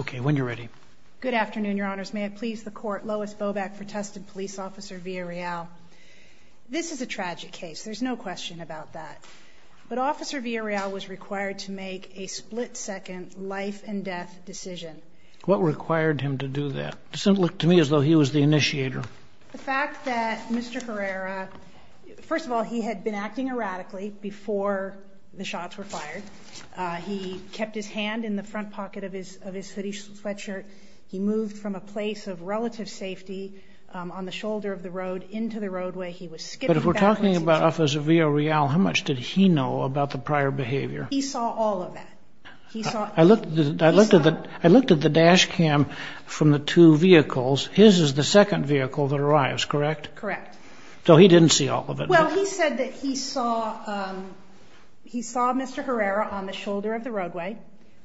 Okay, when you're ready. Good afternoon, your honors. May it please the court, Lois Boback for Tustin Police Officer Villarreal. This is a tragic case, there's no question about that. But Officer Villarreal was required to make a split-second life-and-death decision. What required him to do that? It doesn't look to me as though he was the initiator. The fact that Mr. Herrera, first of all, he had been acting erratically before the shots were fired. He kept his hand in the front pocket of his city sweatshirt. He moved from a place of relative safety on the shoulder of the road into the roadway. He was skipping back and forth. But if we're talking about Officer Villarreal, how much did he know about the prior behavior? He saw all of that. I looked at the dash cam from the two vehicles. His is the second vehicle that arrives, correct? Correct. So he didn't see all of it? Well, he said that he saw Mr. Herrera on the shoulder of the roadway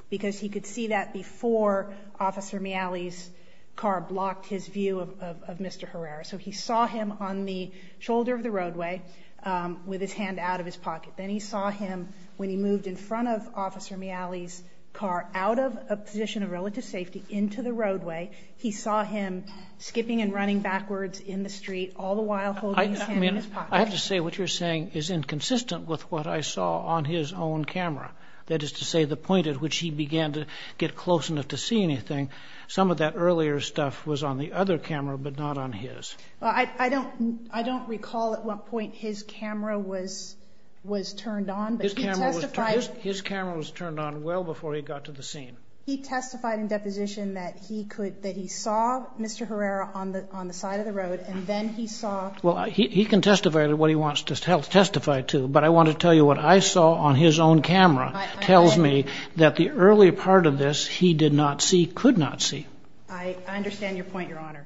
because he could see that before Officer Miali's car blocked his view of Mr. Herrera. So he saw him on the shoulder of the roadway with his hand out of his pocket. Then he saw him when he moved in front of Officer Miali's car out of a position of relative safety into the roadway. He saw him skipping and running backwards in the street, all the while holding his hand in his pocket. I have to say what you're saying is inconsistent with what I saw on his own camera. That is to say the point at which he began to get close enough to see anything. Some of that earlier stuff was on the other camera, but not on his. I don't recall at what point his camera was turned on. His camera was turned on well before he got to the scene. He testified in deposition that he saw Mr. Herrera on the side of the road and then he saw... Well, he can testify to what he wants to testify to, but I want to tell you what I saw on his own camera tells me that the earlier part of this he did not see, could not see. I understand your point, Your Honor.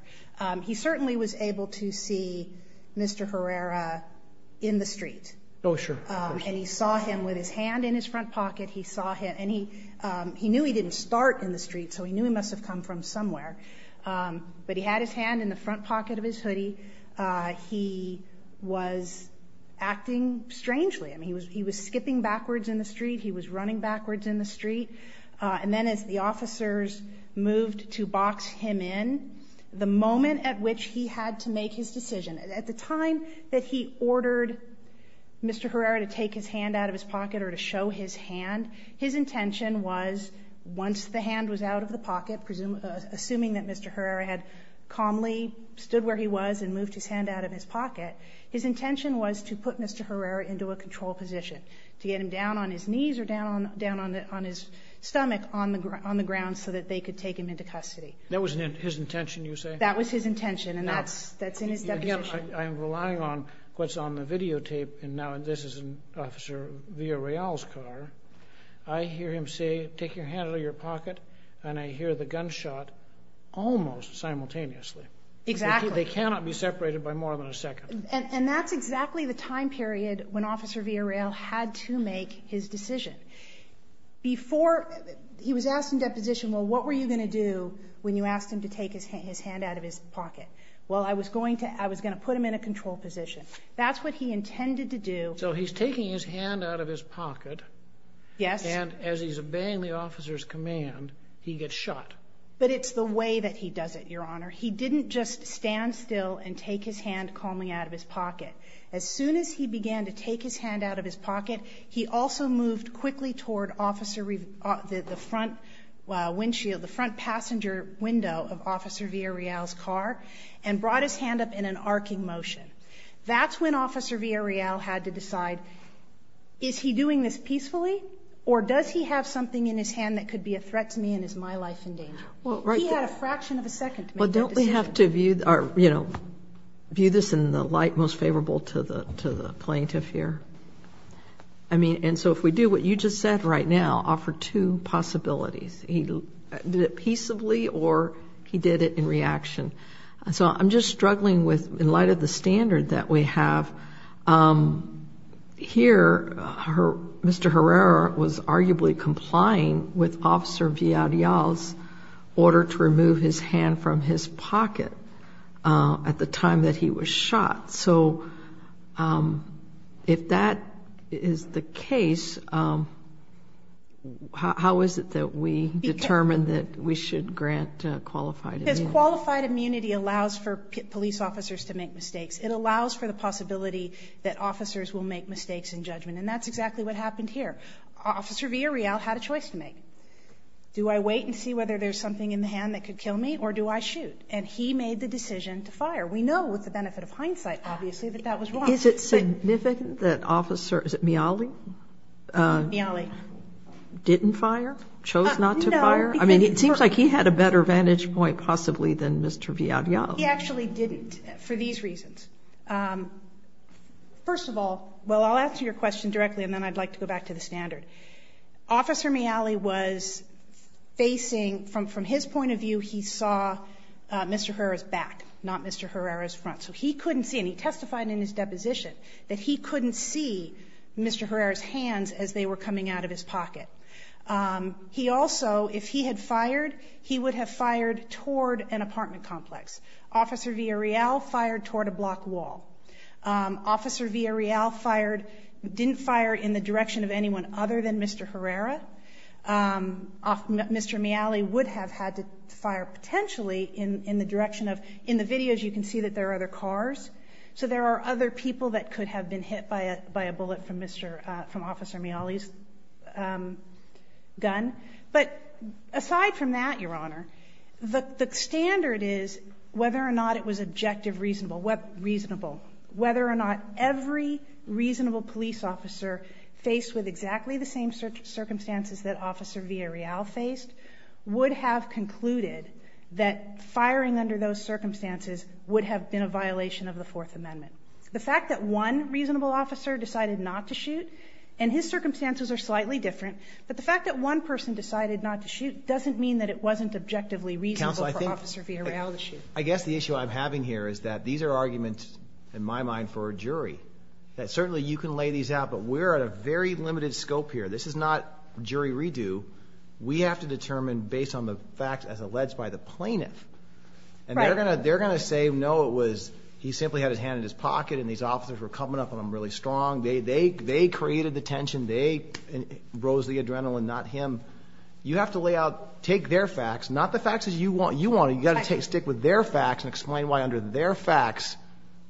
He certainly was able to see Mr. Herrera in the street. Oh, sure. And he saw him with his hand in his front in the street, so he knew he must have come from somewhere. But he had his hand in the front pocket of his hoodie. He was acting strangely. I mean, he was skipping backwards in the street. He was running backwards in the street. And then as the officers moved to box him in, the moment at which he had to make his decision, at the time that he ordered Mr. Herrera to take his hand out of his pocket or to show his hand, his intention was, once the hand was out of the pocket, assuming that Mr. Herrera had calmly stood where he was and moved his hand out of his pocket, his intention was to put Mr. Herrera into a control position, to get him down on his knees or down on his stomach on the ground so that they could take him into custody. That was his intention, you say? That was his intention, and that's in his deposition. I'm relying on what's on the videotape, and now this is in Officer Villarreal's car. I hear him say, take your hand out of your pocket, and I hear the gunshot almost simultaneously. Exactly. They cannot be separated by more than a second. And that's exactly the time period when Officer Villarreal had to make his decision. He was asked in deposition, well, what were you going to do when you asked him to take his hand out of his pocket? Well, I was going to put him in a control position. That's what he intended to do. So he's taking his hand out of his pocket. Yes. And as he's obeying the officer's command, he gets shot. But it's the way that he does it, Your Honor. He didn't just stand still and take his hand calmly out of his pocket. As soon as he began to take his hand out of his pocket, he also moved quickly toward the front windshield, the front passenger window of Officer Villarreal's car, and brought his hand up in an arcing motion. That's when Officer Villarreal had to decide, is he doing this peacefully, or does he have something in his hand that could be a threat to me and is my life in danger? Well, right there. He had a fraction of a second to make that decision. Well, don't we have to view this in the light most favorable to the plaintiff here? I mean, and so if we do what you just said right now, offer two possibilities. He did it peaceably or he did it in reaction. So I'm just struggling with, in light of the standard that we have here, Mr. Herrera was arguably complying with Officer Villarreal's order to remove his hand from his pocket at the time that he was shot. So if that is the case, how is it that we determine that we should grant qualified immunity? Because qualified immunity allows for police officers to make mistakes. It allows for the possibility that officers will make mistakes in judgment. And that's exactly what happened here. Officer Villarreal had a choice to make. Do I wait and see whether there's something in the hand that could kill me, or do I shoot? And he made the decision to fire. We know with the benefit of hindsight, obviously, that that was wrong. Is it significant that Officer, is it Miali? Miali. Didn't fire? Chose not to fire? I mean, it seems like he had a better vantage point possibly than Mr. Villarreal. He actually didn't, for these reasons. First of all, well, I'll answer your question directly and then I'd like to go back to the standard. Officer Miali was facing, from his point of view, he saw Mr. Herrera's back, not Mr. Herrera's front. So he couldn't see, and he testified in his deposition, that he couldn't see Mr. Herrera's hands as they were coming out of his pocket. He also, if he had fired, he would have fired toward an apartment complex. Officer Villarreal fired toward a block wall. Officer Villarreal fired, didn't fire in the direction of anyone other than Mr. Herrera. Of, Mr. Miali would have had to fire potentially in, in the direction of, in the videos you can see that there are other cars. So there are other people that could have been hit by a, by a bullet from Mr., from Officer Miali's gun. But aside from that, Your Honor, the, the standard is whether or not it was objective, reasonable, what, reasonable. Whether or not every reasonable police officer faced with exactly the same search, circumstances that Officer Villarreal faced would have concluded that firing under those circumstances would have been a violation of the Fourth Amendment. The fact that one reasonable officer decided not to shoot, and his circumstances are slightly different, but the fact that one person decided not to shoot doesn't mean that it wasn't objectively reasonable for Officer Villarreal to shoot. I guess the issue I'm having here is that these are arguments, in my mind, for a jury. That certainly you can lay these out, but we're at a very limited scope here. This is not jury redo. We have to determine based on the facts as alleged by the plaintiff. Right. And they're going to, they're going to say, no, it was, he simply had his hand in his pocket and these officers were coming up on him really strong. They, they, they created the tension. They rose the adrenaline, not him. You have to lay out, take their facts, not the facts as you want. You got to take, stick with their facts and explain why under their facts,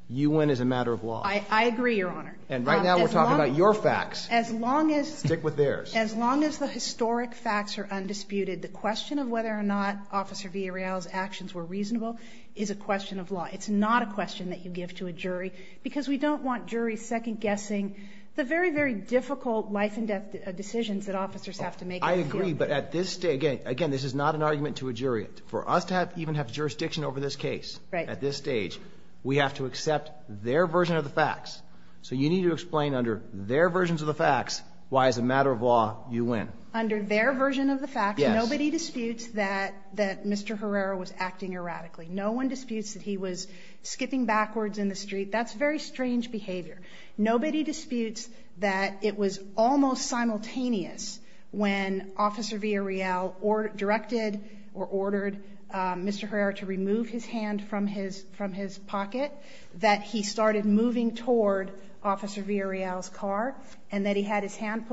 you win as a matter of law. I agree, Your Honor. And right now we're talking about your facts. As long as. Stick with theirs. As long as the historic facts are undisputed, the question of whether or not Officer Villarreal's actions were reasonable is a question of law. It's not a question that you give to a jury, because we don't want juries second guessing the very, very difficult life and death decisions that officers have to make. I agree. But at this day, again, again, this is not an argument to a jury. For us to have even have jurisdiction over this case. Right. At this stage, we have to accept their version of the facts. So you need to explain under their versions of the facts. Why as a matter of law, you win. Under their version of the facts. Nobody disputes that, that Mr. Herrera was acting erratically. No one disputes that he was skipping backwards in the street. That's very strange behavior. Nobody disputes that it was almost simultaneous when Officer Villarreal or directed or ordered Mr. Herrera to remove his hand from his from his pocket that he started moving toward Officer Villarreal's car and that he had his hand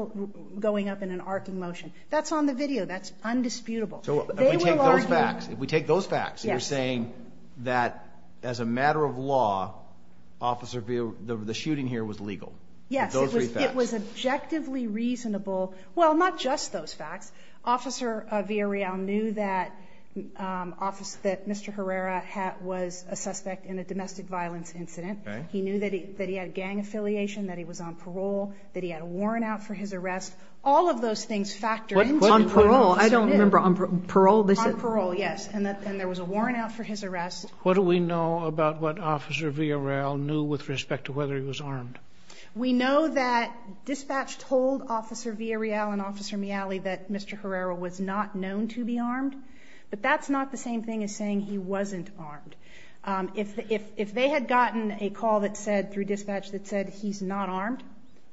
going up in an arcing motion. That's on the video. That's undisputable. So if we take those facts, if we take those facts, you're saying that as a matter of law, Officer Villarreal, the shooting here was legal. Yes, it was objectively reasonable. Well, not just those facts. Officer Villarreal knew that Mr. Herrera was a suspect in a domestic violence incident. He knew that he had gang affiliation, that he was on parole, that he had a warrant out for his arrest. All of those things factor in. On parole. I don't remember. On parole, they said? On parole, yes. And there was a warrant out for his arrest. What do we know about what Officer Villarreal knew with respect to whether he was armed? We know that dispatch told Officer Villarreal and Officer Miali that Mr. Herrera was not known to be armed. But that's not the same thing as saying he wasn't armed. If they had gotten a call that said, through dispatch, that said he's not armed,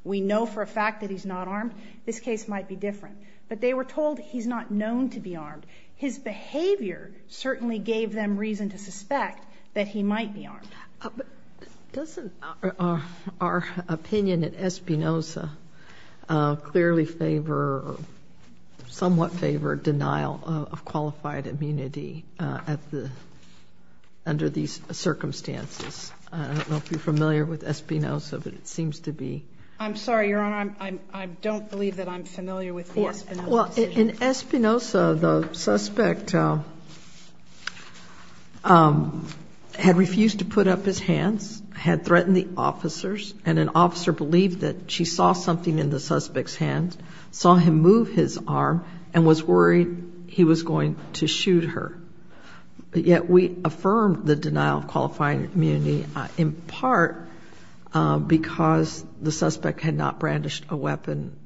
we know for a fact that he's not armed, this case might be different. But they were told he's not known to be armed. But doesn't our opinion at Espinoza clearly favor or somewhat favor denial of qualified immunity at the, under these circumstances? I don't know if you're familiar with Espinoza, but it seems to be. I'm sorry, Your Honor, I don't believe that I'm familiar with the Espinoza case. In Espinoza, the suspect had refused to put up his hands, had threatened the officers, and an officer believed that she saw something in the suspect's hands, saw him move his arm, and was worried he was going to shoot her. Yet we affirm the denial of qualifying immunity in part because the suspect had not brandished a weapon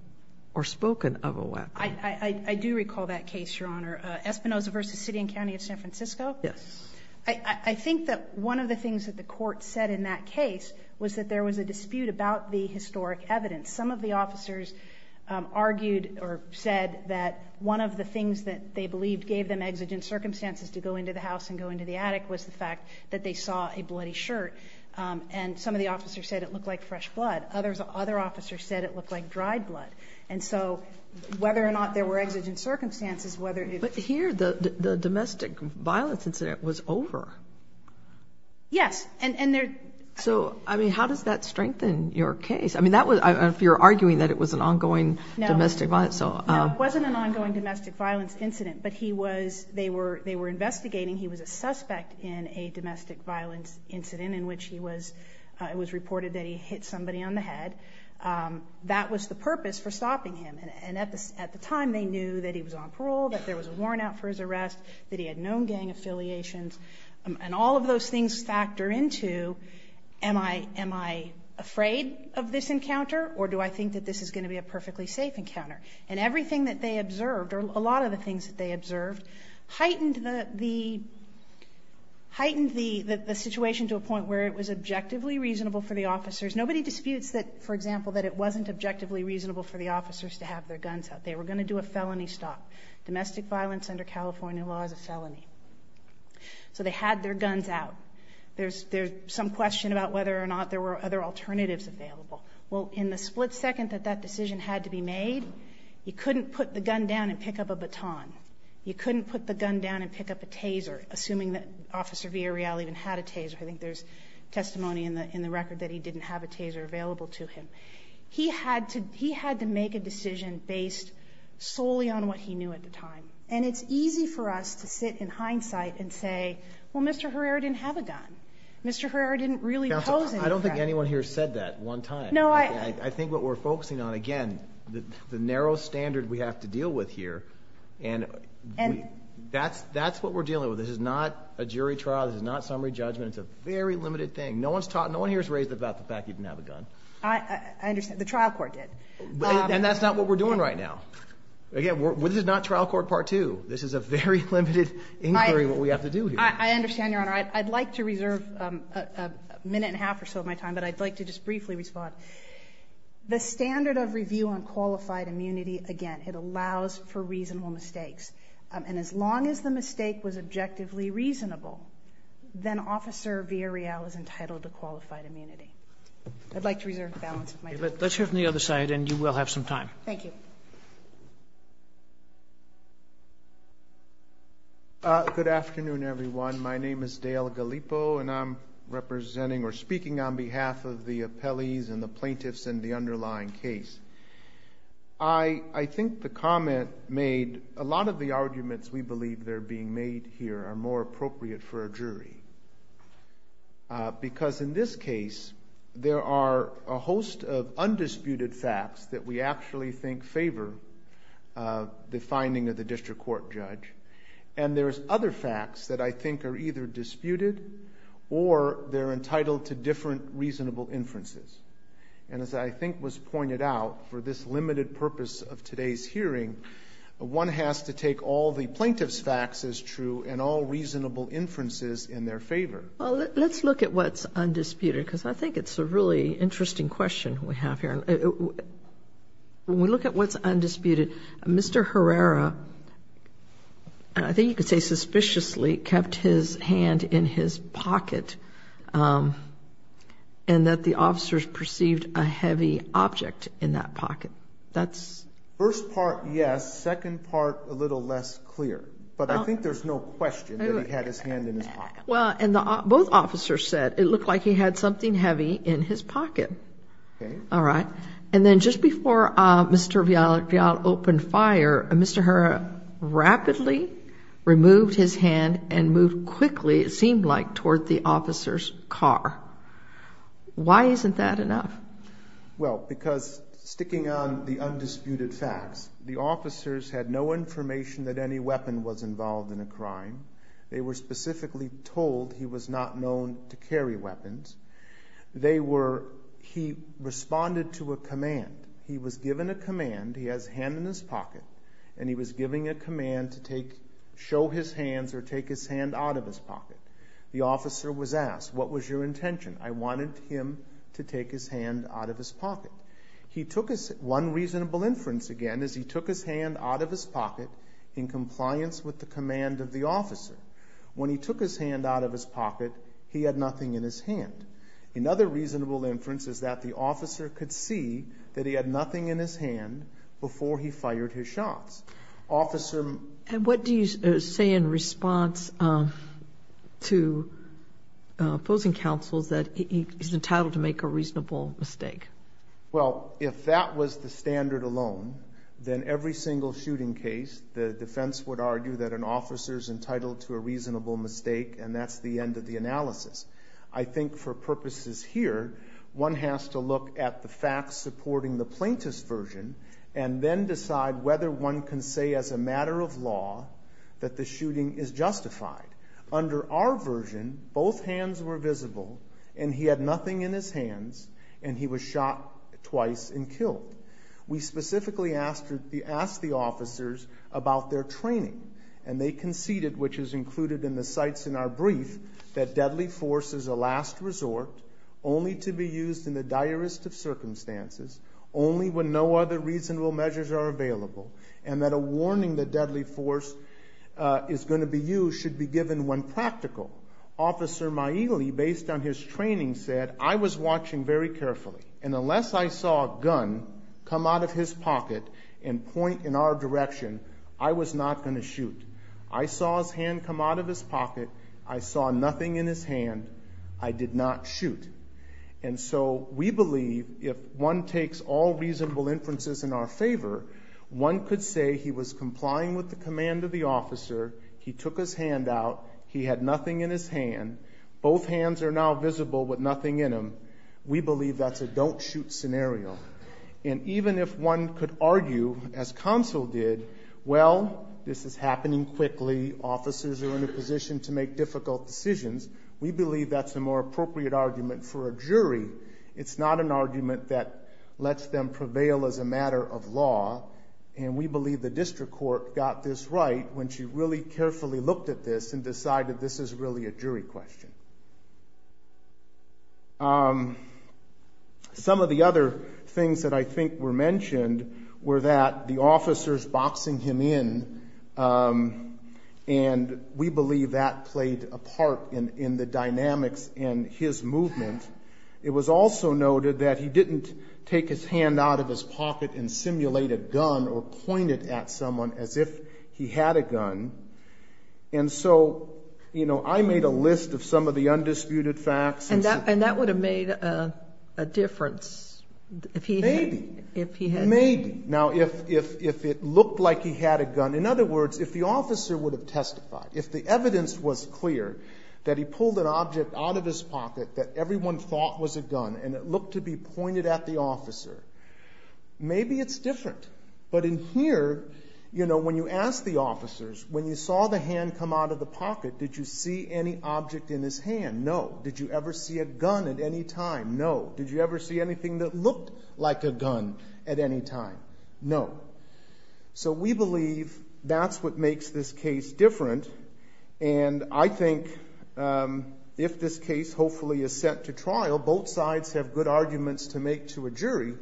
or spoken of a weapon. I do recall that case, Your Honor. Espinoza v. City and County of San Francisco? Yes. I think that one of the things that the court said in that case was that there was a dispute about the historic evidence. Some of the officers argued or said that one of the things that they believed gave them exigent circumstances to go into the house and go into the attic was the fact that they saw a bloody shirt. And some of the officers said it looked like fresh blood. Other officers said it looked like dried blood. And so whether or not there were exigent circumstances, whether it was— But here, the domestic violence incident was over. Yes, and there— So, I mean, how does that strengthen your case? I mean, that was—if you're arguing that it was an ongoing domestic violence— No, it wasn't an ongoing domestic violence incident, but he was—they were investigating. He was a suspect in a domestic violence incident in which he was—it was reported that he hit somebody on the head. That was the purpose for stopping him. And at the time, they knew that he was on parole, that there was a warrant out for his arrest, that he had known gang affiliations. And all of those things factor into, am I afraid of this encounter, or do I think that this is going to be a perfectly safe encounter? And everything that they observed, or a lot of the things that they observed, heightened the—heightened the situation to a point where it was objectively reasonable for the officers. Nobody disputes that, for example, that it wasn't objectively reasonable for the officers to have their guns out. They were going to do a felony stop. Domestic violence under California law is a felony. So they had their guns out. There's some question about whether or not there were other alternatives available. Well, in the split second that that decision had to be made, you couldn't put the gun down and pick up a baton. You couldn't put the gun down and pick up a taser, assuming that Officer Villarreal even had a taser. I think there's testimony in the record that he didn't have a taser available to him. He had to make a decision based solely on what he knew at the time. And it's easy for us to sit in hindsight and say, well, Mr. Herrera didn't have a gun. Mr. Herrera didn't really pose any threat. I don't think anyone here said that one time. No, I— I think what we're focusing on, again, the narrow standard we have to deal with here, and that's what we're dealing with. This is not a jury trial. This is not summary judgment. It's a very limited thing. No one here has raised the fact that he didn't have a gun. I understand. The trial court did. And that's not what we're doing right now. Again, this is not trial court part two. This is a very limited inquiry of what we have to do here. I understand, Your Honor. I'd like to reserve a minute and a half or so of my time, but I'd like to just briefly respond. The standard of review on qualified immunity, again, it allows for reasonable mistakes. And as long as the mistake was objectively reasonable, then Officer Villarreal is entitled to qualified immunity. I'd like to reserve the balance of my time. Let's hear from the other side, and you will have some time. Thank you. Good afternoon, everyone. My name is Dale Gallipo, and I'm representing or speaking on behalf of the appellees and the plaintiffs in the underlying case. I think the comment made, a lot of the arguments we believe they're being made here are more appropriate for a jury, because in this case, there are a host of undisputed facts that we actually think favor the finding of the district court judge. And there's other facts that I think are either disputed or they're entitled to different reasonable inferences. And as I think was pointed out, for this limited purpose of today's hearing, one has to take all the plaintiff's facts as true and all reasonable inferences in their favor. Well, let's look at what's undisputed, because I think it's a really interesting question we have here. When we look at what's undisputed, Mr. Herrera, I think you could say suspiciously, kept his hand in his pocket and that the officers perceived a heavy object in that pocket. That's... First part, yes. Second part, a little less clear. But I think there's no question that he had his hand in his pocket. Well, and both officers said it looked like he had something heavy in his pocket. All right. And then just before Mr. Viala opened fire, Mr. Herrera rapidly removed his hand and moved quickly, it seemed like, toward the officer's car. Why isn't that enough? Well, because sticking on the undisputed facts, the officers had no information that any weapon was involved in a crime. They were specifically told he was not known to carry weapons. They were... He responded to a command. He was given a command, he has a hand in his pocket, and he was given a command to show his hands or take his hand out of his pocket. The officer was asked, what was your intention? I wanted him to take his hand out of his pocket. He took his... One reasonable inference, again, is he took his hand out of his pocket in compliance with the command of the officer. When he took his hand out of his pocket, he had nothing in his hand. Another reasonable inference is that the officer could see that he had nothing in his hand before he fired his shots. Officer... And what do you say in response to opposing counsels that he's entitled to make a reasonable mistake? Well, if that was the standard alone, then every single shooting case, the defense would mistake, and that's the end of the analysis. I think for purposes here, one has to look at the facts supporting the plaintiff's version and then decide whether one can say as a matter of law that the shooting is justified. Under our version, both hands were visible, and he had nothing in his hands, and he was shot twice and killed. We specifically asked the officers about their training, and they conceded, which is included in the cites in our brief, that deadly force is a last resort, only to be used in the direst of circumstances, only when no other reasonable measures are available, and that a warning that deadly force is going to be used should be given when practical. Officer Maile, based on his training, said, I was watching very carefully, and unless I saw a gun come out of his pocket and point in our direction, I was not going to shoot. I saw his hand come out of his pocket. I saw nothing in his hand. I did not shoot. And so we believe if one takes all reasonable inferences in our favor, one could say he was complying with the command of the officer. He took his hand out. He had nothing in his hand. Both hands are now visible with nothing in them. We believe that's a don't shoot scenario. And even if one could argue, as counsel did, well, this is happening quickly. Officers are in a position to make difficult decisions. We believe that's a more appropriate argument for a jury. It's not an argument that lets them prevail as a matter of law, and we believe the district court got this right when she really carefully looked at this and decided this is really a jury question. Some of the other things that I think were mentioned were that the officers boxing him in, and we believe that played a part in the dynamics in his movement. It was also noted that he didn't take his hand out of his pocket and simulate a gun or point it at someone as if he had a gun, and so, you know, I made a list of some of the undisputed facts. And that would have made a difference if he had. Maybe. If he had. Maybe. Now, if it looked like he had a gun, in other words, if the officer would have testified, if the evidence was clear that he pulled an object out of his pocket that everyone thought was a gun and it looked to be pointed at the officer, maybe it's different. But in here, you know, when you ask the officers, when you saw the hand come out of the hand, no. Did you ever see a gun at any time? No. Did you ever see anything that looked like a gun at any time? No. So we believe that's what makes this case different. And I think if this case hopefully is set to trial, both sides have good arguments to make to a jury,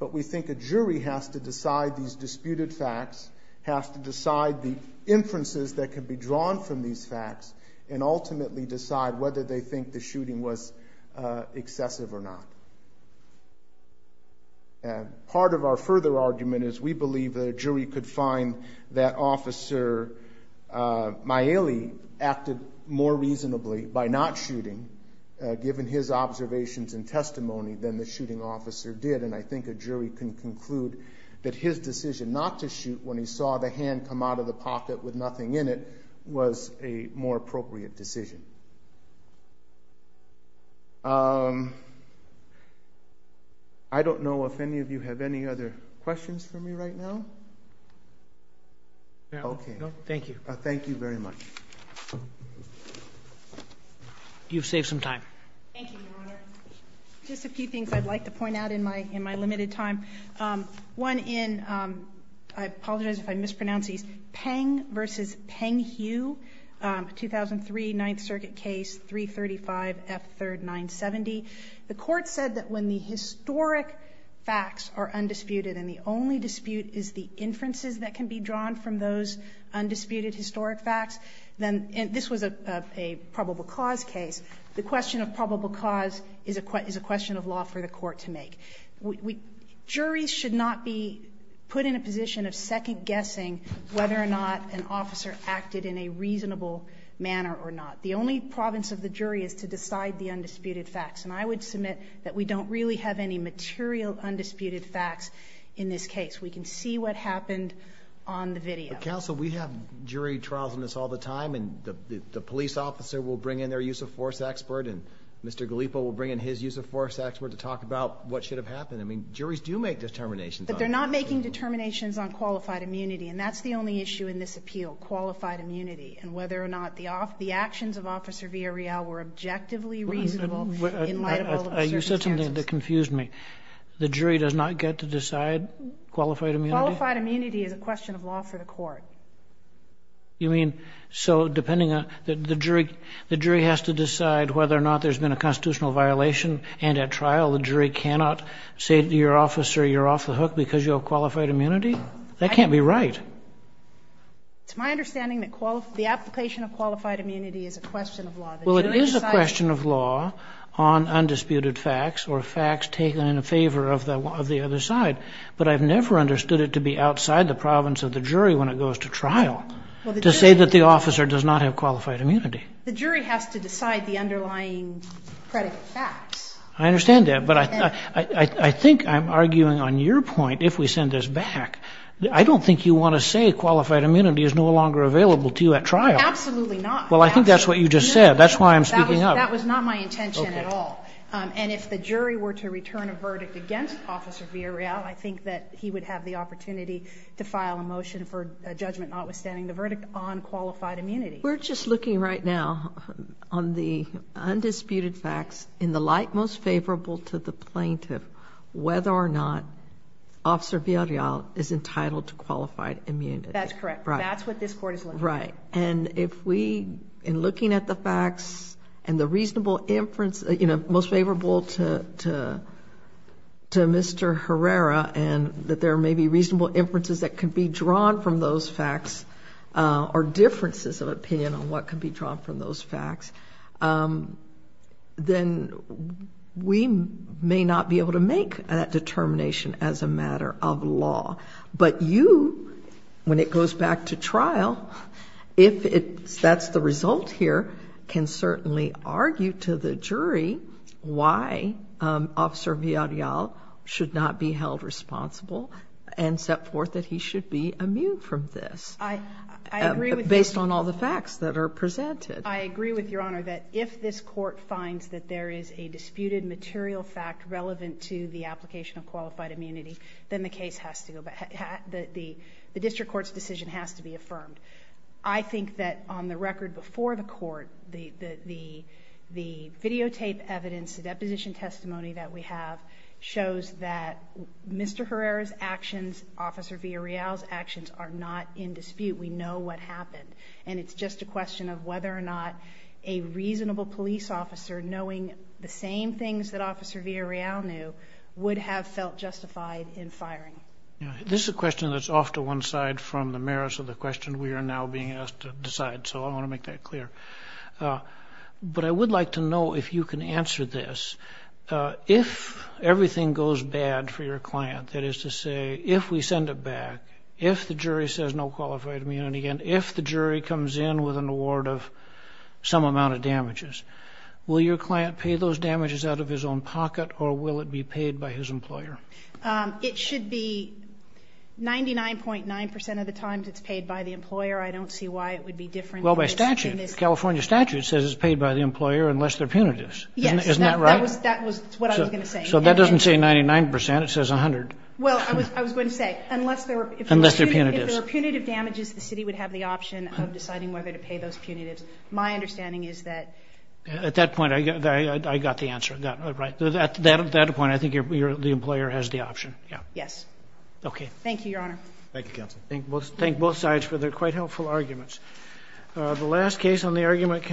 but we think a jury has to decide these disputed facts, has to decide the inferences that can be drawn from these facts, and ultimately decide whether they think the shooting was excessive or not. Part of our further argument is we believe that a jury could find that Officer Maile acted more reasonably by not shooting, given his observations and testimony, than the shooting officer did. And I think a jury can conclude that his decision not to shoot when he saw the hand come out of the pocket with nothing in it was a more appropriate decision. I don't know if any of you have any other questions for me right now. OK. Thank you. Thank you very much. You've saved some time. Thank you, Your Honor. Just a few things I'd like to point out in my limited time. One in, I apologize if I mispronounce these, Peng v. Peng-Hu, 2003, Ninth Circuit case, 335 F. 3rd, 970. The Court said that when the historic facts are undisputed and the only dispute is the inferences that can be drawn from those undisputed historic facts, then this was a probable cause case. The question of probable cause is a question of law for the Court to make. We, juries should not be put in a position of second guessing whether or not an officer acted in a reasonable manner or not. The only province of the jury is to decide the undisputed facts. And I would submit that we don't really have any material undisputed facts in this case. We can see what happened on the video. Counsel, we have jury trials on this all the time. And the police officer will bring in their use of force expert. And Mr. Gallipo will bring in his use of force expert to talk about what should have happened. I mean, juries do make determinations. But they're not making determinations on qualified immunity. And that's the only issue in this appeal, qualified immunity, and whether or not the actions of Officer Villarreal were objectively reasonable in light of all of the circumstances. You said something that confused me. The jury does not get to decide qualified immunity? Qualified immunity is a question of law for the Court. You mean, so depending on the jury, the jury has to decide whether or not there's been a constitutional violation. And at trial, the jury cannot say to your officer, you're off the hook because you have qualified immunity? That can't be right. It's my understanding that the application of qualified immunity is a question of law. Well, it is a question of law on undisputed facts or facts taken in favor of the other side. But I've never understood it to be outside the province of the jury when it goes to trial to say that the officer does not have qualified immunity. The jury has to decide the underlying predicate facts. I understand that. But I think I'm arguing on your point, if we send this back, I don't think you want to say qualified immunity is no longer available to you at trial. Absolutely not. Well, I think that's what you just said. That's why I'm speaking up. That was not my intention at all. And if the jury were to return a verdict against Officer Villarreal, I think that he would have the opportunity to file a motion for judgment notwithstanding the verdict on qualified immunity. We're just looking right now on the undisputed facts in the light most favorable to the plaintiff, whether or not Officer Villarreal is entitled to qualified immunity. That's correct. That's what this court is looking for. Right. And if we, in looking at the facts and the reasonable inference, you know, most favorable to Mr. Herrera and that there may be reasonable inferences that can be drawn from those facts or differences of opinion on what can be drawn from those facts, then we may not be able to make that determination as a matter of law. But you, when it goes back to trial, if that's the result here, can certainly argue to the jury why Officer Villarreal should not be held responsible and set forth that he should be immune from this, based on all the facts that are presented. I agree with Your Honor that if this court finds that there is a disputed material fact relevant to the application of qualified immunity, then the case has to go back, the district court's decision has to be affirmed. I think that on the record before the court, the videotape evidence, the deposition testimony that we have, shows that Mr. Herrera's actions, Officer Villarreal's actions are not in dispute. We know what happened. And it's just a question of whether or not a reasonable police officer, knowing the same things that Officer Villarreal knew, would have felt justified in firing. This is a question that's off to one side from the merits of the question we are now being asked to decide. So I want to make that clear. But I would like to know if you can answer this. If everything goes bad for your client, that is to say, if we send it back, if the jury says no qualified immunity, and if the jury comes in with an award of some amount of damages, will your client pay those damages out of his own It should be 99.9% of the times it's paid by the employer. I don't see why it would be different. Well, by statute, California statute says it's paid by the employer unless they're punitives. Yes. Isn't that right? That was what I was going to say. So that doesn't say 99%. It says 100. Well, I was going to say, unless there are punitive damages, the city would have the option of deciding whether to pay those punitives. My understanding is that... At that point, I got the answer. At that point, I think the employer has the option. Yeah. Yes. Okay. Thank you, Your Honor. Thank you, Counsel. Thank both sides for their quite helpful arguments. The last case on the argument...